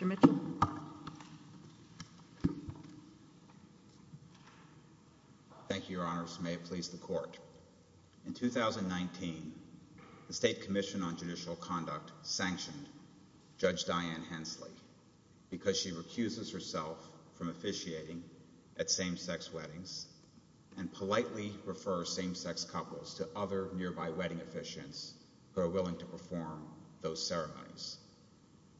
Mr. Mitchell Thank you, Your Honors, and may it please the Court. In 2019, the State Commission on Judicial Conduct sanctioned Judge Diane Hensley because she recuses herself from officiating at same-sex weddings and politely refers same-sex couples to other nearby wedding officiants who are willing to perform those ceremonies.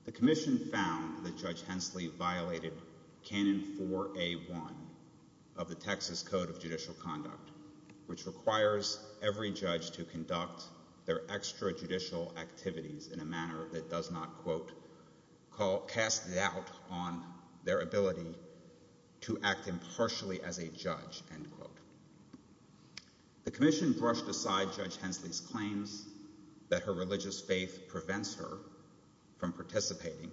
The Commission found that Judge Hensley violated Canon 4A.1 of the Texas Code of Judicial Conduct, which requires every judge to conduct their extrajudicial activities in a manner that casts doubt on their ability to act impartially as a judge. The Commission brushed aside Judge Hensley's claims that her religious faith prevents her from participating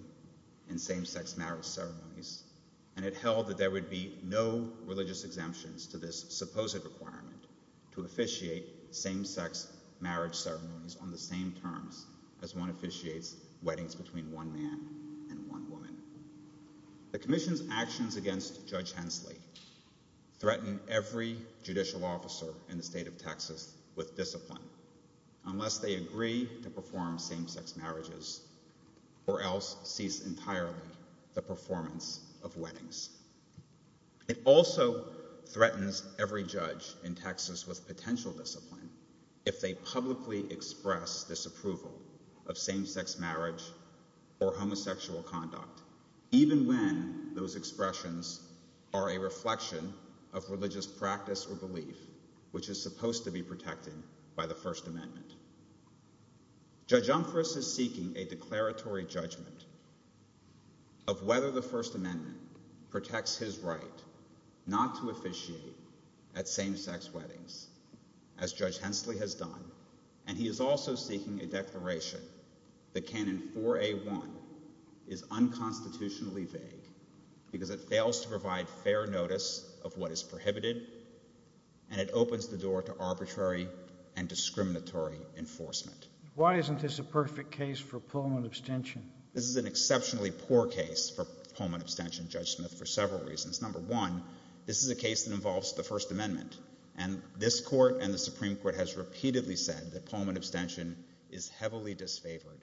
in same-sex marriage ceremonies, and it held that there would be no religious exemptions to this supposed requirement to officiate same-sex marriage ceremonies on the same terms as one officiates weddings between one man and one woman. The Commission's actions against Judge Hensley threaten every judicial officer in the state of Texas with discipline unless they agree to perform same-sex marriages or else cease entirely the performance of weddings. It also threatens every judge in Texas with potential discipline if they publicly express disapproval of same-sex marriage or homosexual conduct, even when those expressions are a reflection of religious practice or belief, which is supposed to be protected by the First Amendment. Judge Umphress is seeking a declaratory judgment of whether the First Amendment protects his right not to officiate at same-sex weddings, as Judge Hensley has done, and he is also seeking a declaration that Canon 4A1 is unconstitutionally vague because it fails to provide fair notice of what is prohibited, and it opens the door to arbitrary and discriminatory enforcement. Why isn't this a perfect case for Pullman abstention? This is an exceptionally poor case for Pullman abstention, Judge Smith, for several reasons. Number one, this is a case that involves the First Amendment, and this Court and the Supreme Court has repeatedly said that Pullman abstention is heavily disfavored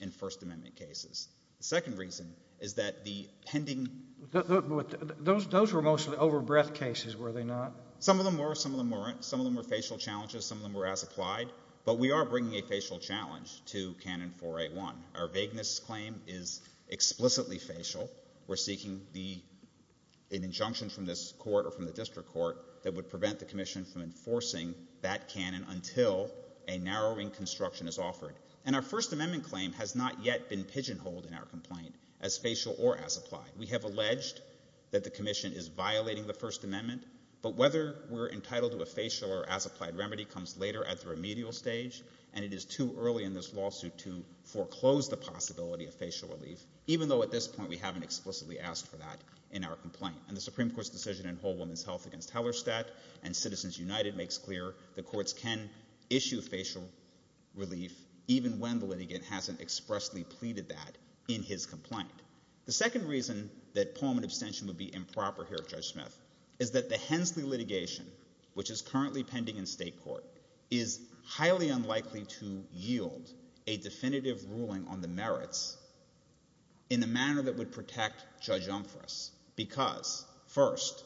in First Amendment cases. The second reason is that the pending... Those were mostly over-breath cases, were they not? Some of them were, some of them weren't. Some of them were facial challenges, some of them were as-applied, but we are bringing a facial challenge to Canon 4A1. Our vagueness claim is explicitly facial. We're seeking an injunction from this Court or from the District Court that would prevent the Commission from enforcing that canon until a narrowing construction is offered. And our First Amendment claim has not yet been pigeonholed in our complaint as facial or as-applied. We have alleged that the Commission is violating the First Amendment, but whether we're entitled to a facial or as-applied remedy comes later at the remedial stage, and it is too early in this lawsuit to foreclose the possibility of facial relief, even though at this point we haven't explicitly asked for that in our complaint. And the Supreme Court's decision in Whole Woman's Health against Hellerstedt and Citizens United makes clear the courts can issue facial relief even when the litigant hasn't expressly pleaded that in his complaint. The second reason that palm abstention would be improper here, Judge Smith, is that the Hensley litigation, which is currently pending in state court, is highly unlikely to yield a definitive ruling on the merits in the manner that would protect Judge Umphress, because first,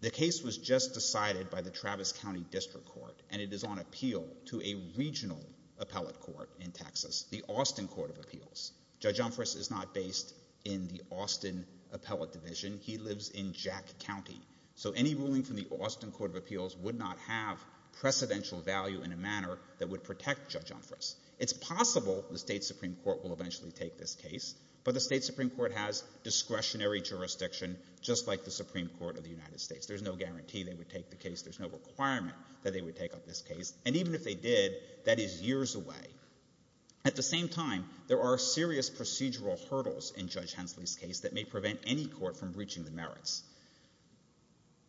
the case was just decided by the Travis County District Court, and it is on appeal to a regional appellate court in Texas, the Austin Court of Appeals. Judge Umphress is not based in the Austin Appellate Division. He lives in Jack County. So any ruling from the Austin Court of Appeals would not have precedential value in a manner that would protect Judge Umphress. It's possible the state Supreme Court will eventually take this case, but the state Supreme Court has discretionary jurisdiction, just like the Supreme Court of the United States. There's no guarantee they would take the case. There's no requirement that they would take up this case, and even if they did, that is years away. At the same time, there are serious procedural hurdles in Judge Hensley's case that may prevent any court from reaching the merits.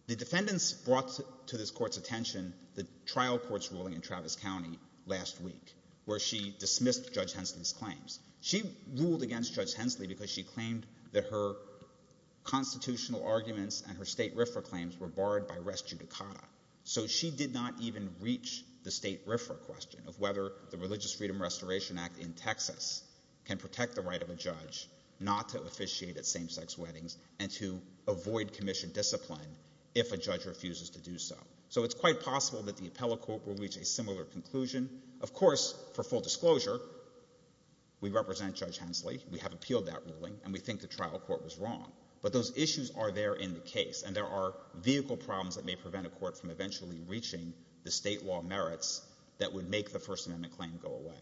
The defendants brought to this court's attention the trial court's ruling in Travis County last week, where she dismissed Judge Hensley's claims. She ruled against Judge Hensley because she claimed that her constitutional arguments and her state RFRA claims were barred by res judicata. So she did not even reach the state RFRA question of whether the Religious Freedom Restoration Act in Texas can protect the right of a judge not to officiate at same-sex weddings and to avoid commission discipline if a judge refuses to do so. So it's quite possible that the appellate court will reach a similar conclusion. Of course, for full disclosure, we represent Judge Hensley. We have appealed that ruling, and we think the trial court was wrong. But those issues are there in the case, and there are vehicle problems that may prevent a court from eventually reaching the state law merits that would make the First Amendment claim go away.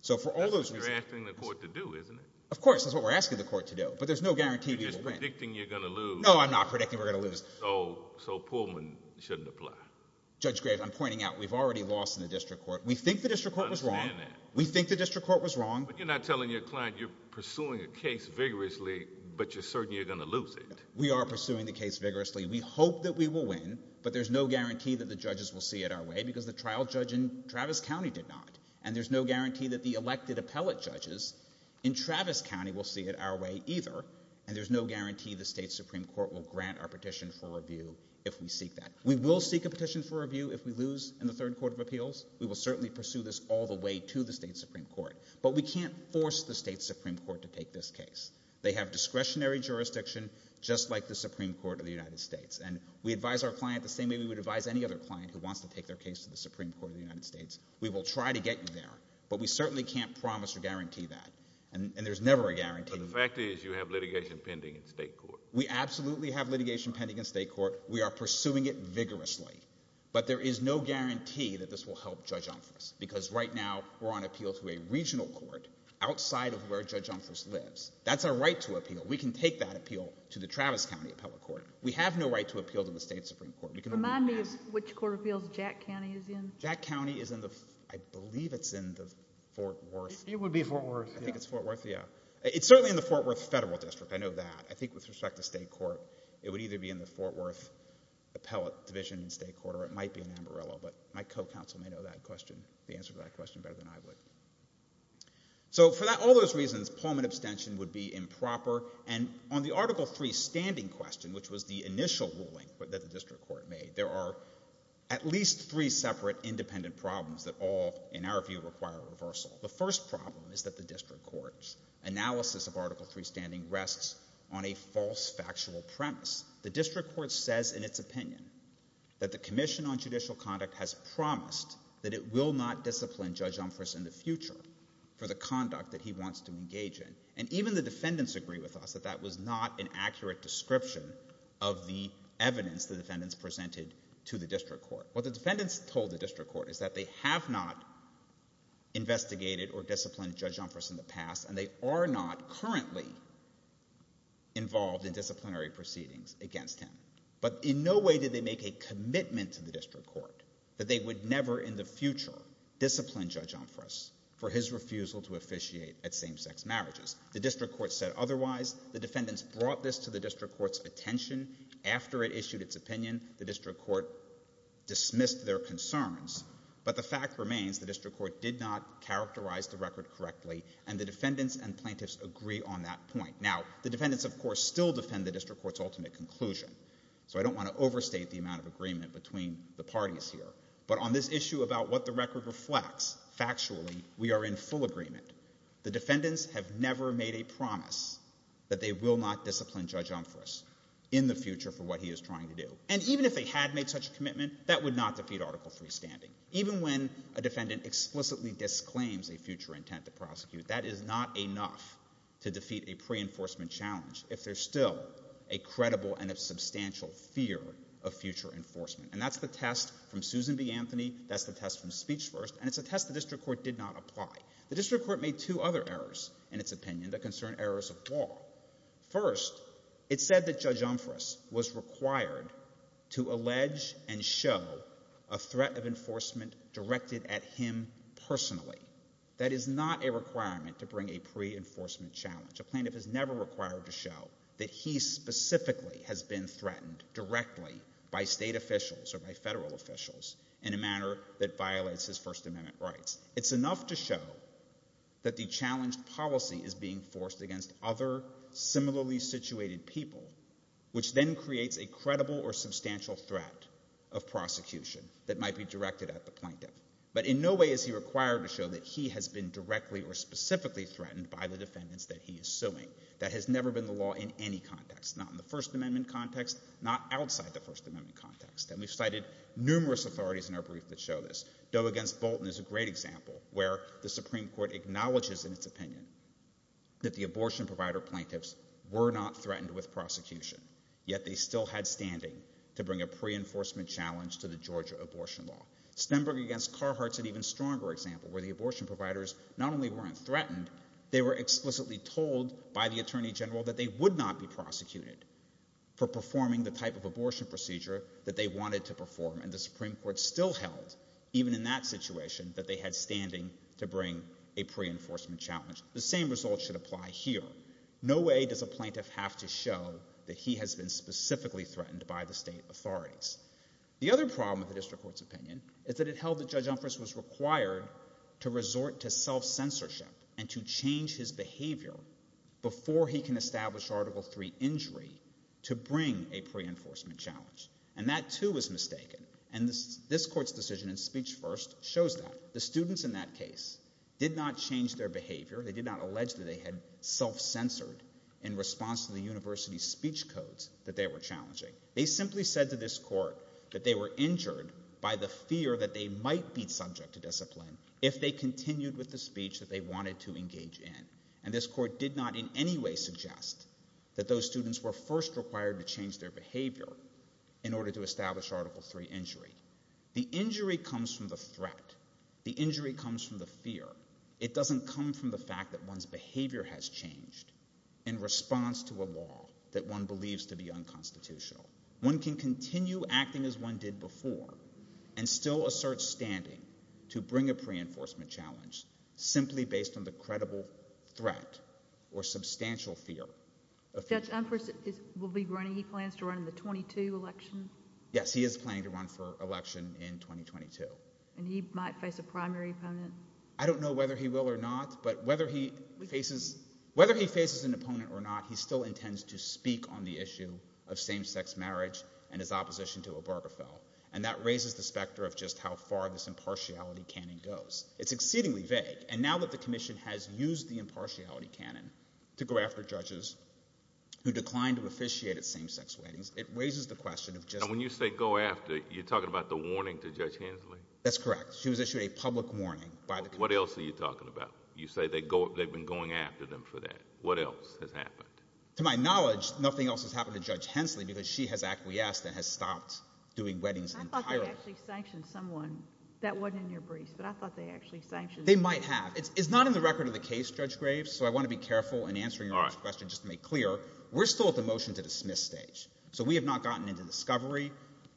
So for all those reasons— That's what you're asking the court to do, isn't it? Of course. That's what we're asking the court to do. But there's no guarantee we will win. You're just predicting you're going to lose. No, I'm not predicting we're going to lose. So Pullman shouldn't apply? Judge Graves, I'm pointing out we've already lost in the district court. We think the district court was wrong. I understand that. We think the district court was wrong. But you're not telling your client you're pursuing a case vigorously, but you're certain you're going to lose it. We are pursuing the case vigorously. We hope that we will win, but there's no guarantee that the judges will see it our way because the trial judge in Travis County did not. And there's no guarantee that the elected appellate judges in Travis County will see it our way either. And there's no guarantee the state Supreme Court will grant our petition for review if we seek that. We will seek a petition for review if we lose in the third court of appeals. We will certainly pursue this all the way to the state Supreme Court. But we can't force the state Supreme Court to take this case. They have discretionary jurisdiction just like the Supreme Court of the United States. And we advise our client the same way we would advise any other client who wants to take their case to the Supreme Court of the United States. We will try to get you there. But we certainly can't promise or guarantee that. And there's never a guarantee. But the fact is you have litigation pending in state court. We absolutely have litigation pending in state court. We are pursuing it vigorously. But there is no guarantee that this will help Judge Umphress. Because right now we're on appeal to a regional court outside of where Judge Umphress lives. That's our right to appeal. We can take that appeal to the Travis County Appellate Court. We have no right to appeal to the state Supreme Court. Remind me which court of appeals Jack County is in. Jack County is in the, I believe it's in the Fort Worth. It would be Fort Worth. I think it's Fort Worth, yeah. It's certainly in the Fort Worth Federal District. I know that. I think with respect to state court, it would either be in the Fort Worth Appellate Division in state court or it might be in Ambarello. But my co-counsel may know that question, the answer to that question better than I would. So for all those reasons, Pullman abstention would be improper. And on the Article III standing question, which was the initial ruling that the district court made, there are at least three separate independent problems that all, in our view, require reversal. The first problem is that the district court's analysis of Article III standing rests on a false factual premise. The district court says in its opinion that the Commission on Judicial Conduct has promised that it will not discipline Judge Umphress in the future for the conduct that he wants to engage in. And even the defendants agree with us that that was not an accurate description of the evidence the defendants presented to the district court. What the defendants told the district court is that they have not investigated or disciplined Judge Umphress in the past and they are not currently involved in disciplinary proceedings against him. But in no way did they make a commitment to the district court that they would never in the future discipline Judge Umphress for his refusal to officiate at same-sex marriages. The district court said otherwise. The defendants brought this to the district court's attention. After it issued its opinion, the district court dismissed their concerns. But the fact remains the district court did not characterize the record correctly and the defendants and plaintiffs agree on that point. Now, the defendants of course still defend the district court's ultimate conclusion. So I don't want to overstate the amount of agreement between the parties here. But on this issue about what the record reflects, factually, we are in full agreement. The defendants have never made a promise that they will not discipline Judge Umphress in the future for what he is trying to do. And even if they had made such a commitment, that would not defeat Article III standing. Even when a defendant explicitly disclaims a future intent to prosecute, that is not enough to defeat a pre-enforcement challenge if there is still a credible and a substantial fear of future enforcement. And that's the test from Susan B. Anthony, that's the test from Speech First, and it's a test the district court did not apply. The district court made two other errors in its opinion that concern errors of law. First, it said that Judge Umphress was required to allege and show a threat of enforcement directed at him personally. That is not a requirement to bring a pre-enforcement challenge. A plaintiff is never required to show that he specifically has been threatened directly by state officials or by federal officials in a manner that violates his First Amendment rights. It's enough to show that the challenged policy is being forced against other similarly situated people, which then creates a credible or substantial threat of prosecution that might be directed at the plaintiff. But in no way is he required to show that he has been directly or specifically threatened by the defendants that he is suing. That has never been the law in any context, not in the First Amendment context, not outside the First Amendment context. And we've cited numerous authorities in our brief that show this. Doe against Bolton is a great example where the Supreme Court acknowledges in its opinion that the abortion provider plaintiffs were not threatened with prosecution, yet they still had standing to bring a pre-enforcement challenge to the Georgia abortion law. Stenberg against Carhartt is an even stronger example where the abortion providers not only weren't threatened, they were explicitly told by the Attorney General that they would not be prosecuted for performing the type of abortion procedure that they wanted to perform, and the Supreme Court still held, even in that situation, that they had standing to bring a pre-enforcement challenge. The same result should apply here. No way does a plaintiff have to show that he has been specifically threatened by the state authorities. The other problem with the district court's opinion is that it held that Judge Umphress was required to resort to self-censorship and to change his behavior before he can establish Article III injury to bring a pre-enforcement challenge. And that, too, was mistaken. And this court's decision in speech first shows that. The students in that case did not change their behavior. They did not allege that they had self-censored in response to the university's speech codes that they were challenging. They simply said to this court that they were injured by the fear that they might be subject to discipline if they continued with the speech that they wanted to engage in. And this court did not in any way suggest that those students were first required to change their behavior in order to establish Article III injury. The injury comes from the threat. The injury comes from the fear. It doesn't come from the fact that one's behavior has changed in response to a law that one has made unconstitutional. One can continue acting as one did before and still assert standing to bring a pre-enforcement challenge simply based on the credible threat or substantial fear of future— Judge Umphress will be running—he plans to run in the 2022 election? Yes, he is planning to run for election in 2022. And he might face a primary opponent? I don't know whether he will or not, but whether he faces—whether he faces an opponent or not, he still intends to speak on the issue of same-sex marriage and his opposition to Obergefell. And that raises the specter of just how far this impartiality canon goes. It's exceedingly vague. And now that the Commission has used the impartiality canon to go after judges who declined to officiate at same-sex weddings, it raises the question of just— And when you say go after, you're talking about the warning to Judge Hensley? That's correct. She was issued a public warning by the— What else are you talking about? You say they've been going after them for that. What else has happened? To my knowledge, nothing else has happened to Judge Hensley because she has acquiesced and has stopped doing weddings entirely. I thought they actually sanctioned someone. That wasn't in your briefs, but I thought they actually sanctioned— They might have. It's not in the record of the case, Judge Graves, so I want to be careful in answering your question just to make clear. We're still at the motion to dismiss stage. So we have not gotten into discovery.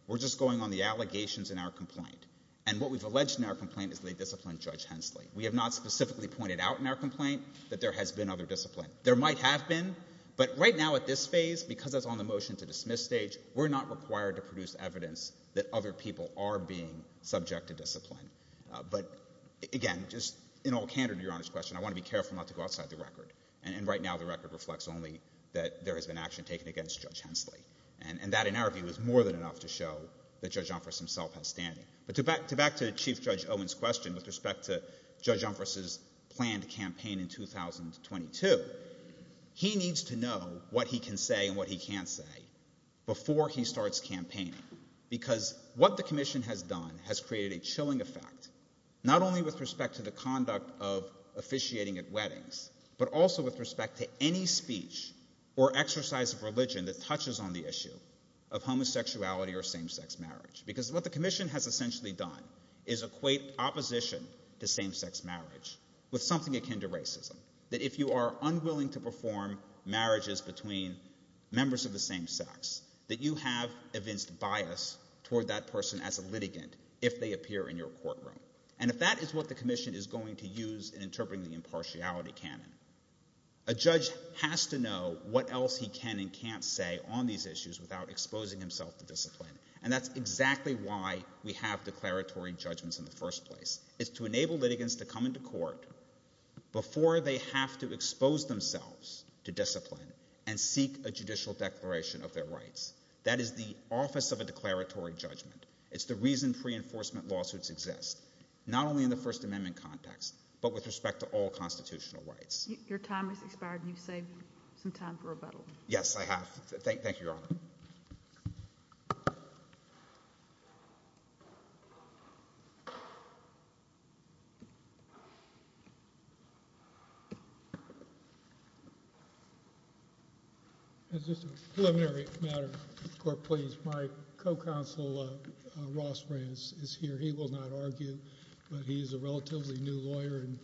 We're just going on the allegations in our complaint. And what we've alleged in our complaint is that they disciplined Judge Hensley. We have not specifically pointed out in our complaint that there has been other discipline. There might have been, but right now at this phase, because that's on the motion to dismiss stage, we're not required to produce evidence that other people are being subject to discipline. But, again, just in all candor to Your Honor's question, I want to be careful not to go outside the record. And right now the record reflects only that there has been action taken against Judge Hensley. And that, in our view, is more than enough to show that Judge Johnforst himself has standing. But to back to Chief Judge Owen's question with respect to Judge Johnforst's planned campaign in 2022, he needs to know what he can say and what he can't say before he starts campaigning because what the commission has done has created a chilling effect, not only with respect to the conduct of officiating at weddings, but also with respect to any speech or exercise of religion that touches on the issue of homosexuality or same-sex marriage. Because what the commission has essentially done is equate opposition to same-sex marriage with something akin to racism, that if you are unwilling to perform marriages between members of the same sex, that you have evinced bias toward that person as a litigant if they appear in your courtroom. And if that is what the commission is going to use in interpreting the impartiality canon, a judge has to know what else he can and can't say on these issues without exposing himself to discipline. And that's exactly why we have declaratory judgments in the first place, is to enable litigants to come into court before they have to expose themselves to discipline and seek a judicial declaration of their rights. That is the office of a declaratory judgment. It's the reason pre-enforcement lawsuits exist, not only in the First Amendment context, but with respect to all constitutional rights. Your time has expired and you've saved some time for rebuttal. Yes, I have. Thank you, Your Honor. That's just a preliminary matter, Court, please. My co-counsel, Ross Rance, is here. He will not argue, but he is a relatively new lawyer and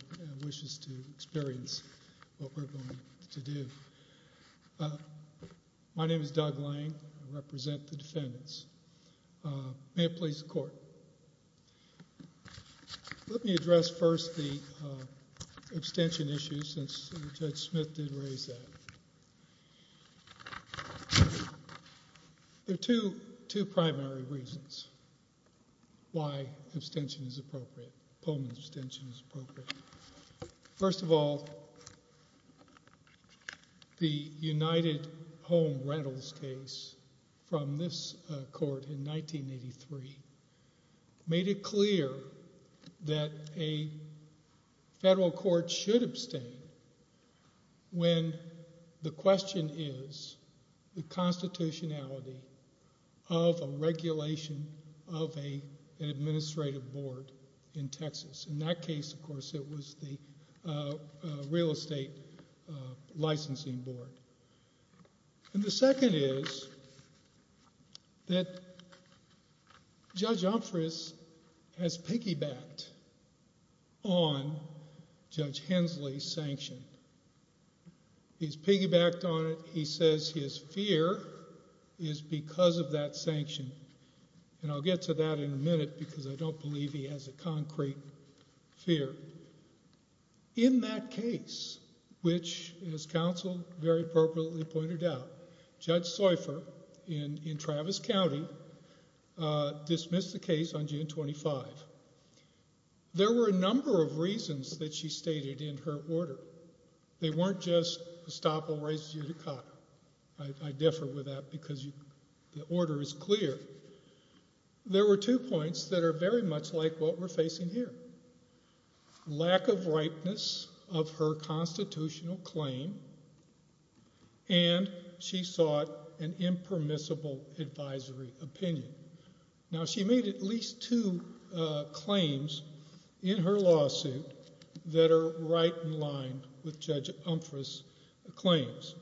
wishes to experience what we're going to do. My name is Doug Lang. I represent the defendants. May it please the Court. Let me address first the abstention issue, since Judge Smith did raise that. There are two primary reasons why abstention is appropriate, Pullman's abstention is appropriate. First of all, the United Home Rentals case from this court in 1983 made it clear that a federal court should abstain when the question is the constitutionality of a regulation of an administrative board in Texas. In that case, of course, it was the Real Estate Licensing Board. The second is that Judge Umphress has piggybacked on Judge Hensley's sanction. He's piggybacked on it. He says his fear is because of that sanction, and I'll get to that in a minute because I fear. In that case, which, as counsel very appropriately pointed out, Judge Seufer, in Travis County, dismissed the case on June 25th, there were a number of reasons that she stated in her order. They weren't just, Estoppel raises you to Cotter. I differ with that because the order is clear. There were two points that are very much like what we're facing here. Lack of ripeness of her constitutional claim, and she sought an impermissible advisory opinion. Now, she made at least two claims in her lawsuit that are right in line with Judge Umphress' claims.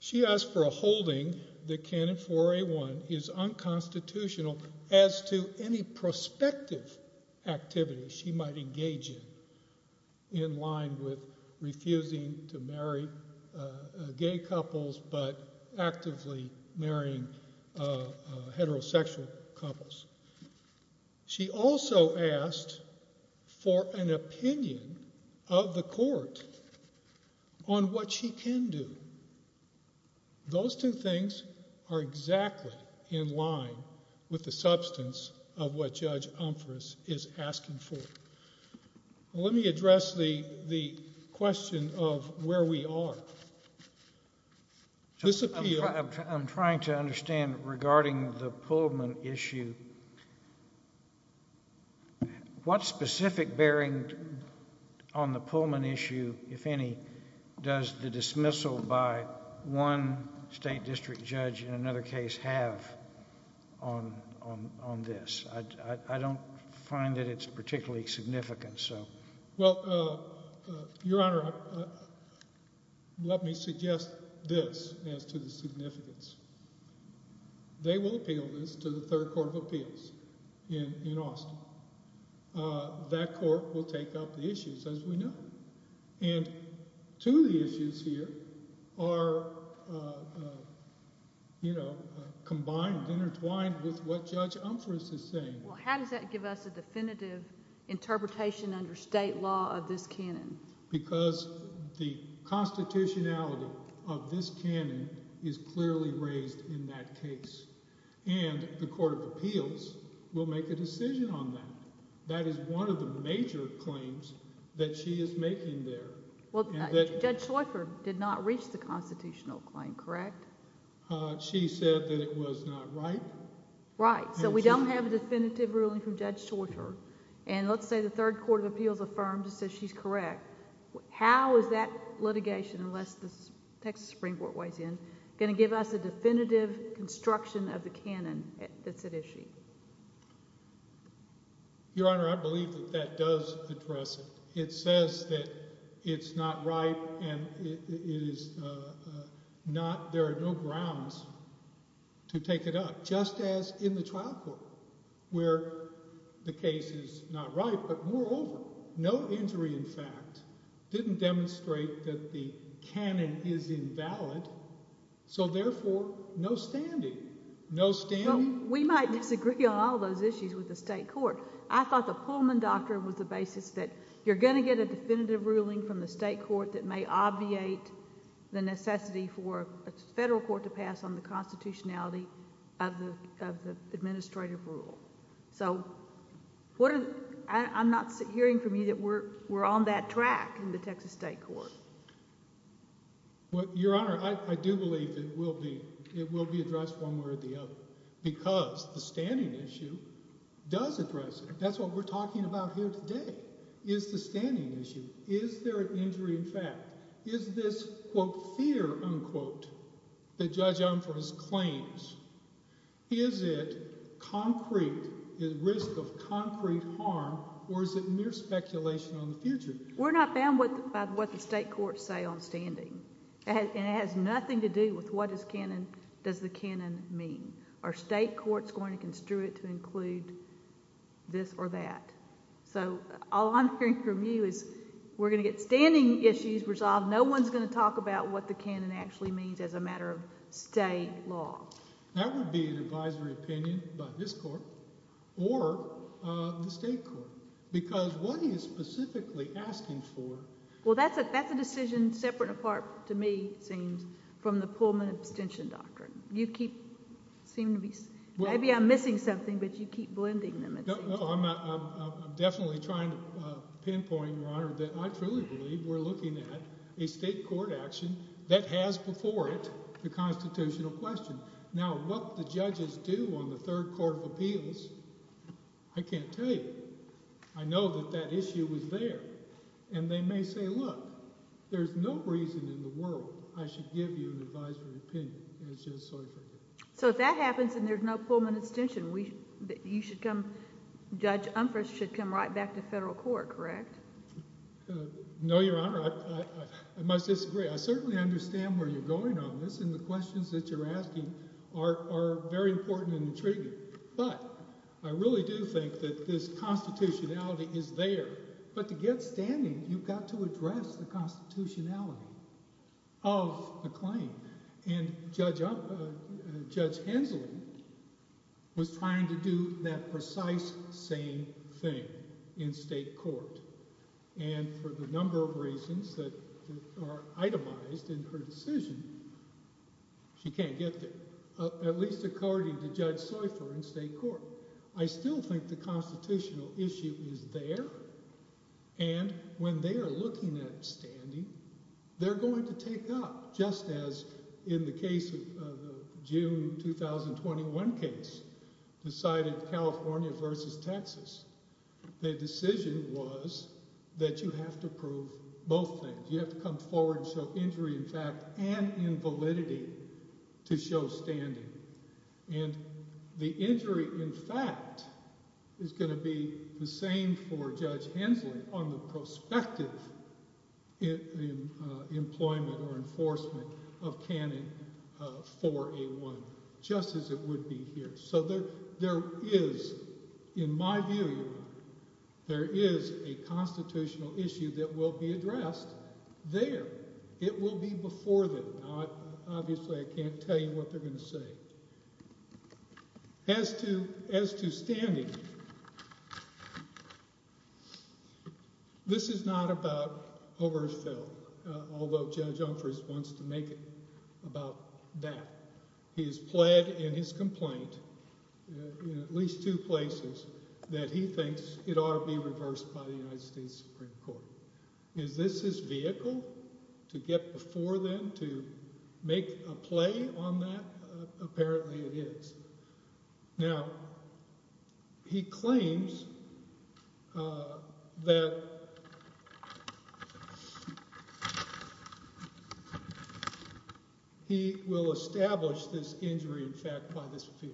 She asked for a holding that Canon 4A1 is unconstitutional as to any prospective activity she might engage in, in line with refusing to marry gay couples but actively marrying heterosexual couples. She also asked for an opinion of the court on what she can do. Those two things are exactly in line with the substance of what Judge Umphress is asking for. Let me address the question of where we are. I'm trying to understand regarding the Pullman issue. What specific bearing on the Pullman issue, if any, does the dismissal by one state district judge in another case have on this? I don't find that it's particularly significant, so... Let me suggest this as to the significance. They will appeal this to the Third Court of Appeals in Austin. That court will take up the issues, as we know, and two of the issues here are, you know, combined, intertwined with what Judge Umphress is saying. Well, how does that give us a definitive interpretation under state law of this canon? Because the constitutionality of this canon is clearly raised in that case, and the Court of Appeals will make a decision on that. That is one of the major claims that she is making there. Well, Judge Schleifer did not reach the constitutional claim, correct? She said that it was not right. Right. So we don't have a definitive ruling from Judge Schleifer, and let's say the Third Court of Appeals affirms and says she's correct. How is that litigation, unless the Texas Supreme Court weighs in, going to give us a definitive construction of the canon that's at issue? Your Honor, I believe that that does address it. It says that it's not right, and it is not... there are no grounds to take it up, just as in the trial court, where the case is not right, but moreover, no injury in fact didn't demonstrate that the canon is invalid, so therefore, no standing. No standing? Well, we might disagree on all those issues with the state court. I thought the Pullman doctrine was the basis that you're going to get a definitive ruling from the state court that may obviate the necessity for a federal court to pass on the constitutionality of the administrative rule. So I'm not hearing from you that we're on that track in the Texas state court. Your Honor, I do believe it will be addressed one way or the other, because the standing issue does address it. That's what we're talking about here today, is the standing issue. Is there an injury in fact? Is this, quote, fear, unquote, that Judge Umphress claims, is it concrete, the risk of concrete harm, or is it mere speculation on the future? We're not bound by what the state courts say on standing, and it has nothing to do with what does the canon mean. Are state courts going to construe it to include this or that? So all I'm hearing from you is we're going to get standing issues resolved. No one's going to talk about what the canon actually means as a matter of state law. That would be an advisory opinion by this court or the state court, because what he is specifically asking for... Well, that's a decision separate and apart, to me, it seems, from the Pullman abstention doctrine. You keep, seem to be... Maybe I'm missing something, but you keep blending them. No, no, I'm definitely trying to pinpoint, Your Honor, that I truly believe we're looking at a state court action that has before it the constitutional question. Now what the judges do on the Third Court of Appeals, I can't tell you. I know that that issue was there, and they may say, look, there's no reason in the world I should give you an advisory opinion as Judge Seifried did. So if that happens and there's no Pullman abstention, you should come... Judge Umphress should come right back to federal court, correct? No, Your Honor, I must disagree. I certainly understand where you're going on this, and the questions that you're asking are very important and intriguing, but I really do think that this constitutionality is there. But to get standing, you've got to address the constitutionality of a claim. And Judge Hensley was trying to do that precise same thing in state court. And for the number of reasons that are itemized in her decision, she can't get there, at least according to Judge Seifer in state court. I still think the constitutional issue is there, and when they are looking at standing, they're going to take up, just as in the case of the June 2021 case decided California versus Texas. The decision was that you have to prove both things. You have to come forward and show injury in fact and in validity to show standing. And the injury in fact is going to be the same for Judge Hensley on the prospective employment or enforcement of Canon 4A1, just as it would be here. So there is, in my view, Your Honor, there is a constitutional issue that will be addressed there. It will be before them. Obviously, I can't tell you what they're going to say. But as to standing, this is not about Obergefell, although Judge Umphress wants to make it about that. He has pled in his complaint in at least two places that he thinks it ought to be reversed by the United States Supreme Court. Is this his vehicle to get before them to make a play on that? Apparently it is. Now, he claims that he will establish this injury in fact by this fear.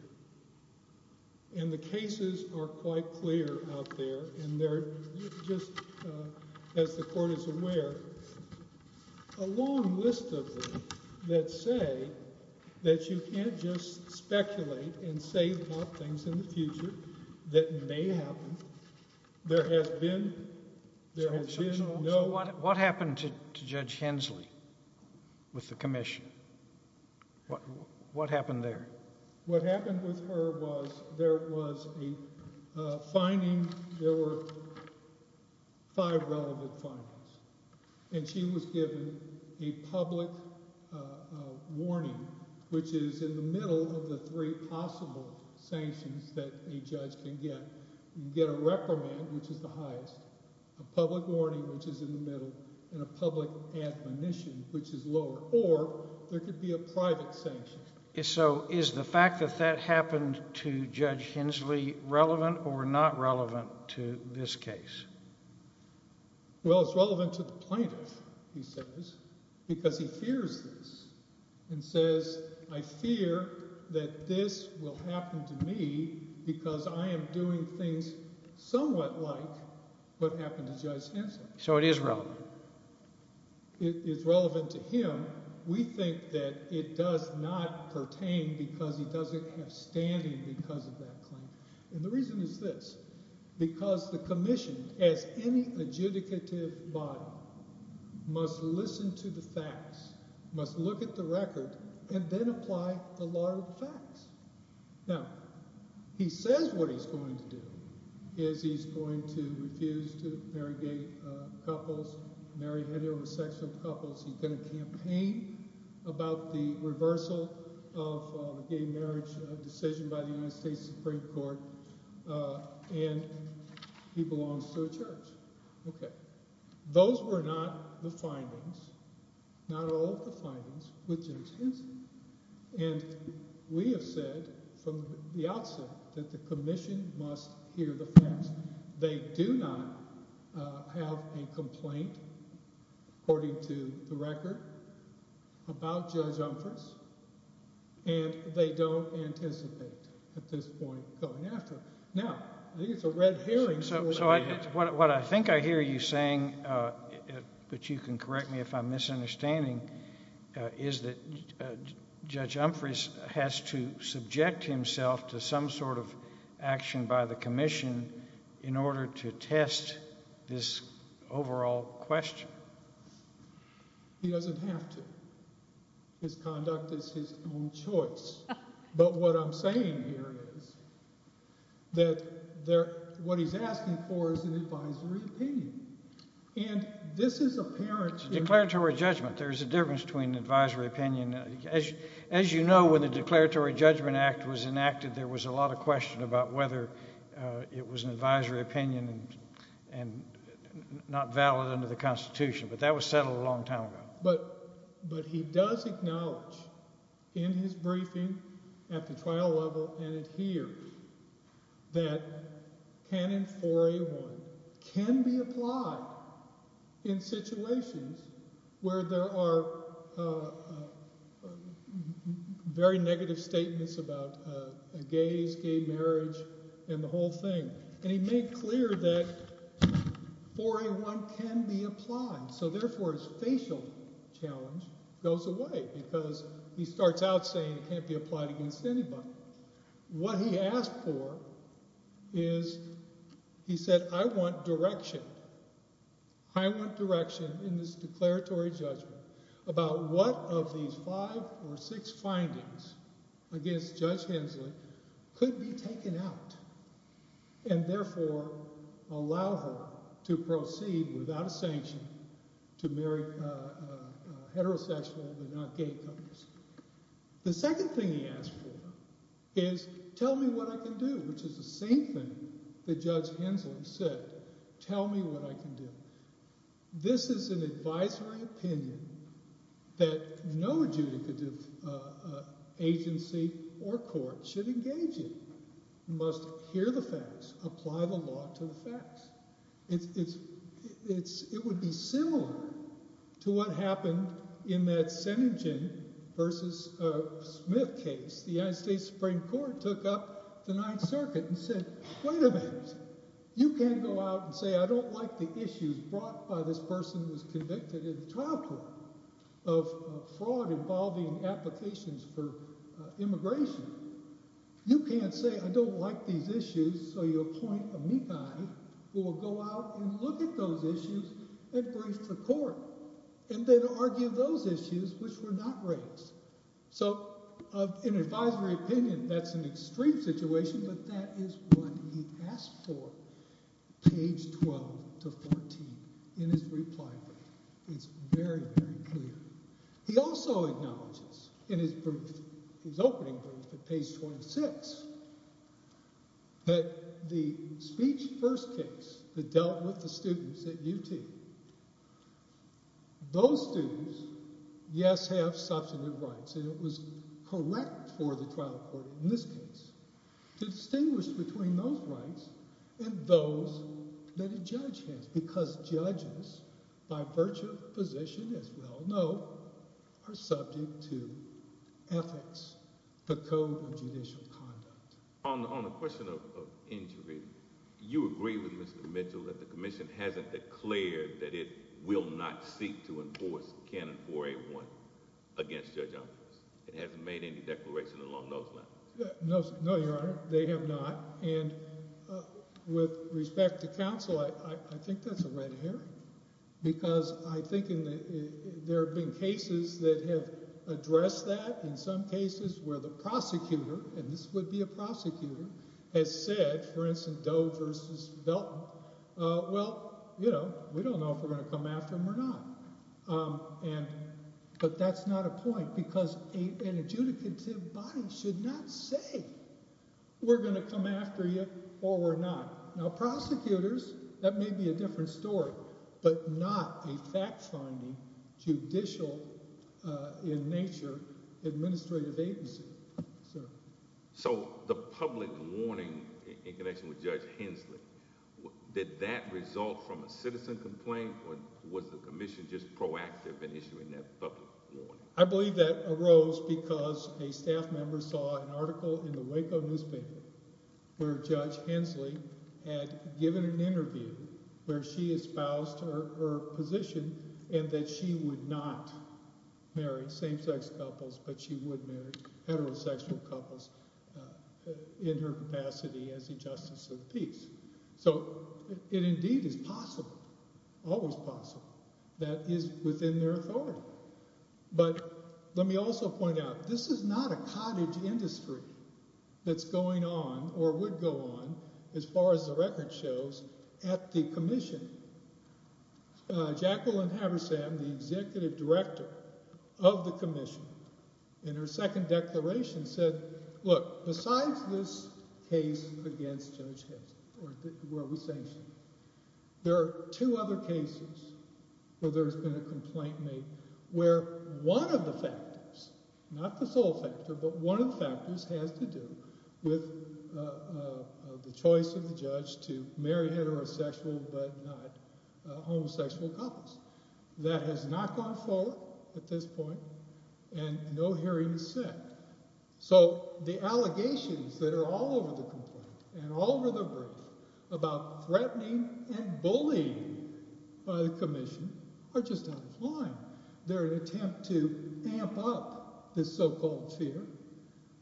And the cases are quite clear out there. And they're just, as the Court is aware, a long list of them that say that you can't just speculate and say the hot things in the future that may happen. There has been, there has been no... What happened to Judge Hensley with the commission? What happened there? What happened with her was there was a finding. There were five relevant findings. And she was given a public warning, which is in the middle of the three possible sanctions that a judge can get. You can get a reprimand, which is the highest, a public warning, which is in the middle, and a public admonition, which is lower. Or there could be a private sanction. So is the fact that that happened to Judge Hensley relevant or not relevant to this case? Well, it's relevant to the plaintiff, he says, because he fears this and says, I fear that this will happen to me because I am doing things somewhat like what happened to Judge Hensley. So it is relevant? It is relevant to him. We think that it does not pertain because he doesn't have standing because of that claim. And the reason is this. Because the commission, as any adjudicative body, must listen to the facts, must look at the record, and then apply the law of facts. Now, he says what he's going to do is he's going to refuse to marry gay couples, marry heterosexual couples. He's going to campaign about the reversal of the gay marriage decision by the United States Supreme Court. And he belongs to a church. Okay. Those were not the findings, not all of the findings with Judge Hensley. And we have said from the outset that the commission must hear the facts. They do not have a complaint, according to the record, about Judge Umphress. And they don't anticipate at this point going after. Now, I think it's a red herring. So what I think I hear you saying, but you can correct me if I'm misunderstanding, is that Judge Umphress has to subject himself to some sort of action by the commission in order to test this overall question. He doesn't have to. His conduct is his own choice. But what I'm saying here is that what he's asking for is an advisory opinion. And this is apparent. Declaratory judgment. There's a difference between advisory opinion. As you know, when the Declaratory Judgment Act was enacted, there was a lot of question about whether it was an advisory opinion and not valid under the Constitution. But that was settled a long time ago. But he does acknowledge in his briefing at the trial level and it here that Canon 4A1 can be applied in situations where there are very negative statements about gays, gay marriage, and the whole thing. And he made clear that 4A1 can be applied. So therefore, his facial challenge goes away because he starts out saying it can't be applied against anybody. What he asked for is, he said, I want direction. I want direction in this declaratory judgment about what of these five or six findings against Judge Hensley could be taken out and therefore allow her to proceed without a sanction to marry heterosexual but not gay couples. The second thing he asked for is, tell me what I can do, which is the same thing that he said, tell me what I can do. This is an advisory opinion that no adjudicative agency or court should engage in. You must hear the facts, apply the law to the facts. It would be similar to what happened in that Senegin versus Smith case. The United States Supreme Court took up the Ninth Circuit and said, wait a minute, you can't go out and say, I don't like the issues brought by this person who was convicted in the trial court of fraud involving applications for immigration. You can't say, I don't like these issues, so you appoint a me guy who will go out and look at those issues and bring it to court and then argue those issues which were not raised. So in an advisory opinion, that's an extreme situation, but that is what he asked for. Page 12 to 14 in his reply brief, it's very, very clear. He also acknowledges in his opening brief at page 26 that the speech first case that dealt with the students at UT, those students, yes, have substantive rights, and it was correct for the trial court in this case to distinguish between those rights and those that a judge has. Because judges, by virtue of position, as we all know, are subject to ethics, the code of judicial conduct. On the question of injury, you agree with Mr. Mitchell that the commission hasn't declared that it will not seek to enforce Canon 4A1 against Judge Ambrose. It hasn't made any declaration along those lines. No, Your Honor, they have not. And with respect to counsel, I think that's a red herring. Because I think there have been cases that have addressed that. In some cases where the prosecutor, and this would be a prosecutor, has said, for instance, Doe versus Belton, well, you know, we don't know if we're going to come after them or not. And but that's not a point because an adjudicative body should not say we're going to come after you or we're not. Now, prosecutors, that may be a different story, but not a fact-finding judicial in nature administrative agency. So the public warning in connection with Judge Hensley, did that result from a citizen complaint or was the commission just proactive in issuing that public warning? I believe that arose because a staff member saw an article in the Waco newspaper where Judge Hensley had given an interview where she espoused her position and that she would not marry same-sex couples, but she would marry heterosexual couples in her capacity as the justice of the peace. So it indeed is possible, always possible, that is within their authority. But let me also point out, this is not a cottage industry that's going on or would go on, as far as the record shows, at the commission. Jacqueline Haversam, the executive director of the commission, in her second declaration said, look, besides this case against Judge Hensley, where we sanctioned her, there are two other cases where there's been a complaint made where one of the factors, not the sole factor, but one of the factors has to do with the choice of the judge to marry heterosexual but not homosexual couples. That has not gone forward at this point and no hearing is set. So the allegations that are all over the complaint and all over the brief about threatening and bullying by the commission are just out of line. They're an attempt to amp up this so-called fear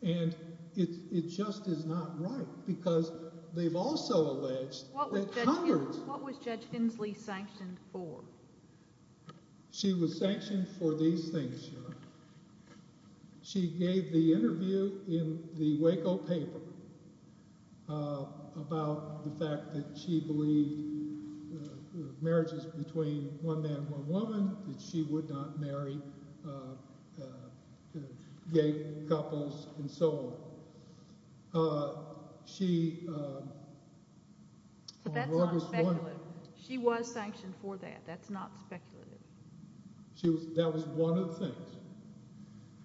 and it just is not right because they've also alleged that Congress... She was sanctioned for these things. She gave the interview in the Waco paper about the fact that she believed marriages between one man and one woman, that she would not marry gay couples and so on. She... She was sanctioned for that. That's not speculative. That was one of the things.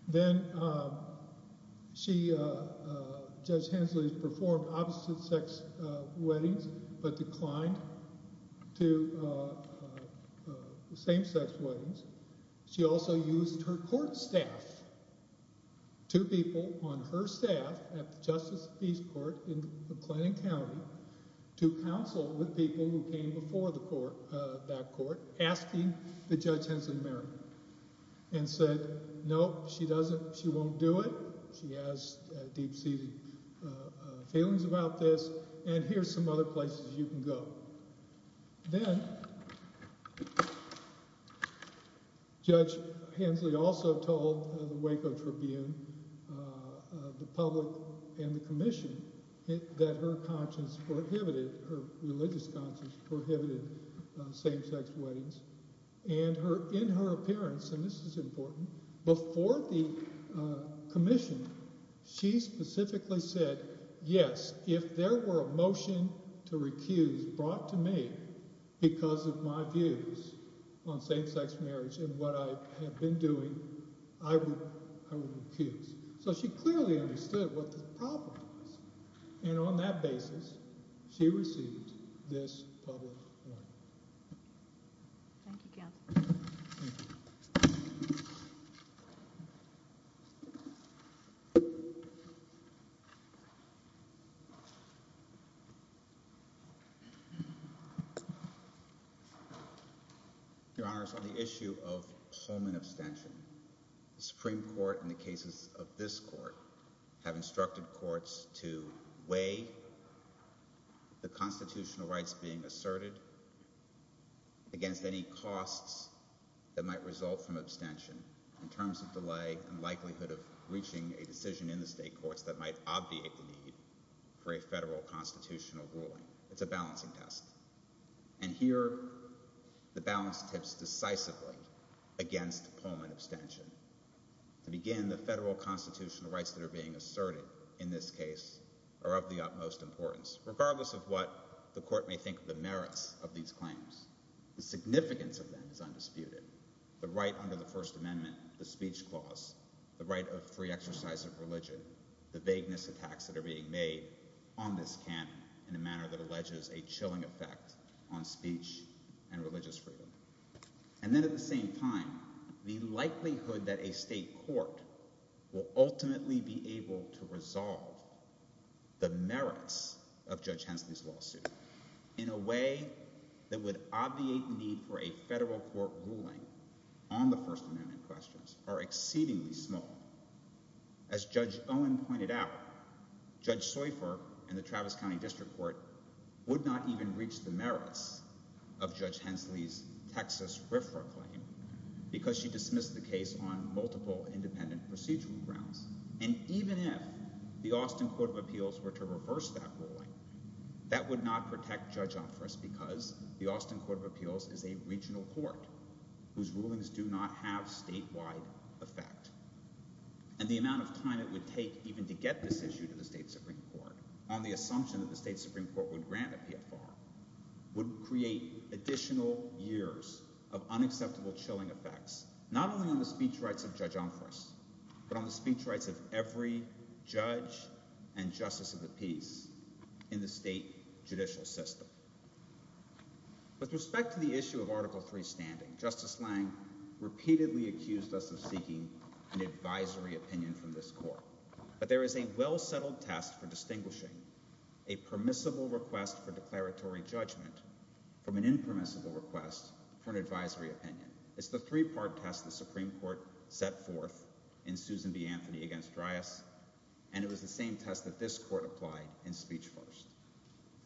Then Judge Hensley performed opposite-sex weddings but declined to same-sex weddings. She also used her court staff, two people on her staff at the Justice Peace Court in asking that Judge Hensley marry and said, nope, she doesn't. She won't do it. She has deep-seated feelings about this and here's some other places you can go. Then Judge Hensley also told the Waco Tribune, the public and the commission that her conscience prohibited, her religious conscience prohibited same-sex weddings and in her appearance, and this is important, before the commission, she specifically said, yes, if there were a motion to recuse brought to me because of my views on same-sex marriage and what I have been doing, I would recuse. So she clearly understood what the problem was and on that basis, she received this public warning. Thank you, counsel. Your Honor, on the issue of Pullman abstention, the Supreme Court in the cases of this court have instructed courts to weigh the constitutional rights being asserted against any costs that might result from abstention in terms of delay and likelihood of reaching a decision in the state courts that might obviate the need for a federal constitutional ruling. It's a balancing test and here the balance tips decisively against Pullman abstention. To begin, the federal constitutional rights that are being asserted in this case are of the utmost importance. Regardless of what the court may think of the merits of these claims, the significance of them is undisputed. The right under the First Amendment, the speech clause, the right of free exercise of religion, the vagueness attacks that are being made on this canon in a manner that alleges a chilling effect on speech and religious freedom. And then at the same time, the likelihood that a state court will ultimately be able to resolve the merits of Judge Hensley's lawsuit in a way that would obviate the need for a federal court ruling on the First Amendment questions are exceedingly small. As Judge Owen pointed out, Judge Seufer and the Travis County District Court would not even reach the merits of Judge Hensley's Texas RFRA claim because she dismissed the case on multiple independent procedural grounds. And even if the Austin Court of Appeals were to reverse that ruling, that would not protect Judge Offriss because the Austin Court of Appeals is a regional court whose rulings do not have statewide effect. And the amount of time it would take even to get this issue to the state Supreme Court on the assumption that the state Supreme Court would grant a PFR would create additional years of unacceptable chilling effects, not only on the speech rights of Judge Offriss, but on the speech rights of every judge and justice of the peace in the state judicial system. With respect to the issue of Article III standing, Justice Lange repeatedly accused us of seeking an advisory opinion from this court. But there is a well-settled test for distinguishing a permissible request for declaratory judgment from an impermissible request for an advisory opinion. It's the three-part test the Supreme Court set forth in Susan B. Anthony v. Dryas, and it was the same test that this court applied in speech first.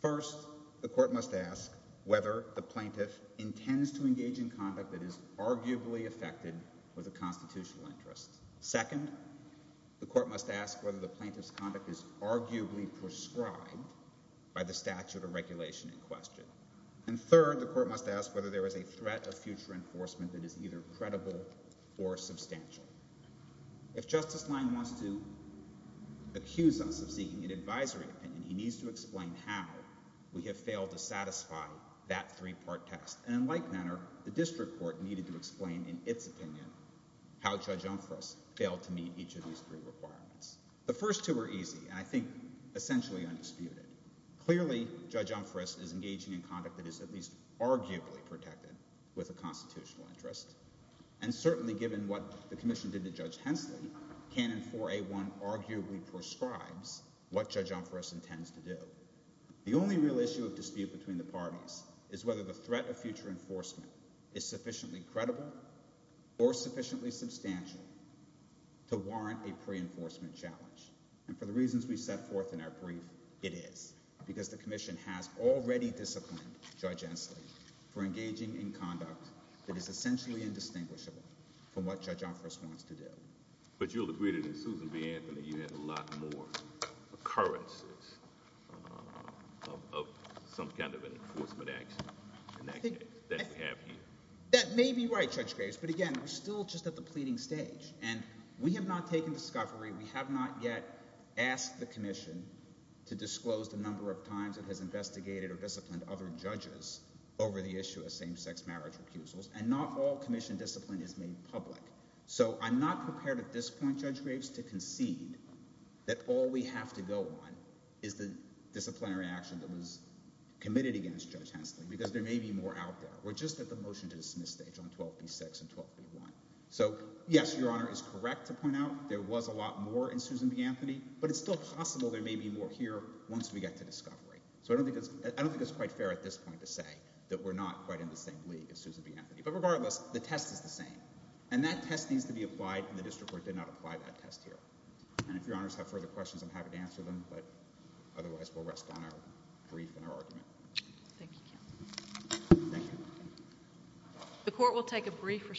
First, the court must ask whether the plaintiff intends to engage in conduct that is arguably affected with a constitutional interest. Second, the court must ask whether the plaintiff's conduct is arguably prescribed by the statute of regulation in question. And third, the court must ask whether there is a threat of future enforcement that is either credible or substantial. If Justice Lange wants to accuse us of seeking an advisory opinion, he needs to explain how we have failed to satisfy that three-part test. And in like manner, the district court needed to explain in its opinion how Judge Umphress failed to meet each of these three requirements. The first two are easy, and I think essentially undisputed. Clearly, Judge Umphress is engaging in conduct that is at least arguably protected with a constitutional interest. And certainly, given what the commission did to Judge Hensley, Canon 4A1 arguably prescribes what Judge Umphress intends to do. The only real issue of dispute between the parties is whether the threat of future enforcement is sufficiently credible or sufficiently substantial to warrant a pre-enforcement challenge. And for the reasons we set forth in our brief, it is, because the commission has already disciplined Judge Hensley for engaging in conduct that is essentially indistinguishable from what Judge Umphress wants to do. But you'll agree that in Susan B. Anthony, you had a lot more occurrences of some kind of an enforcement action in that case that we have here. That may be right, Judge Graves. But again, we're still just at the pleading stage. And we have not taken discovery. We have not yet asked the commission to disclose the number of times it has investigated or disciplined other judges over the issue of same-sex marriage recusals. And not all commission discipline is made public. So I'm not prepared at this point, Judge Graves, to concede that all we have to go on is the disciplinary action that was committed against Judge Hensley. Because there may be more out there. We're just at the motion-to-dismiss stage on 12B6 and 12B1. So yes, Your Honor is correct to point out there was a lot more in Susan B. Anthony. But it's still possible there may be more here once we get to discovery. So I don't think it's quite fair at this point to say that we're not quite in the same league as Susan B. Anthony. But regardless, the test is the same. And that test needs to be applied. And the district court did not apply that test here. And if Your Honors have further questions, I'm happy to answer them. But otherwise, we'll rest on our brief and our argument. Thank you, Ken. Thank you. The court will take a brief recess.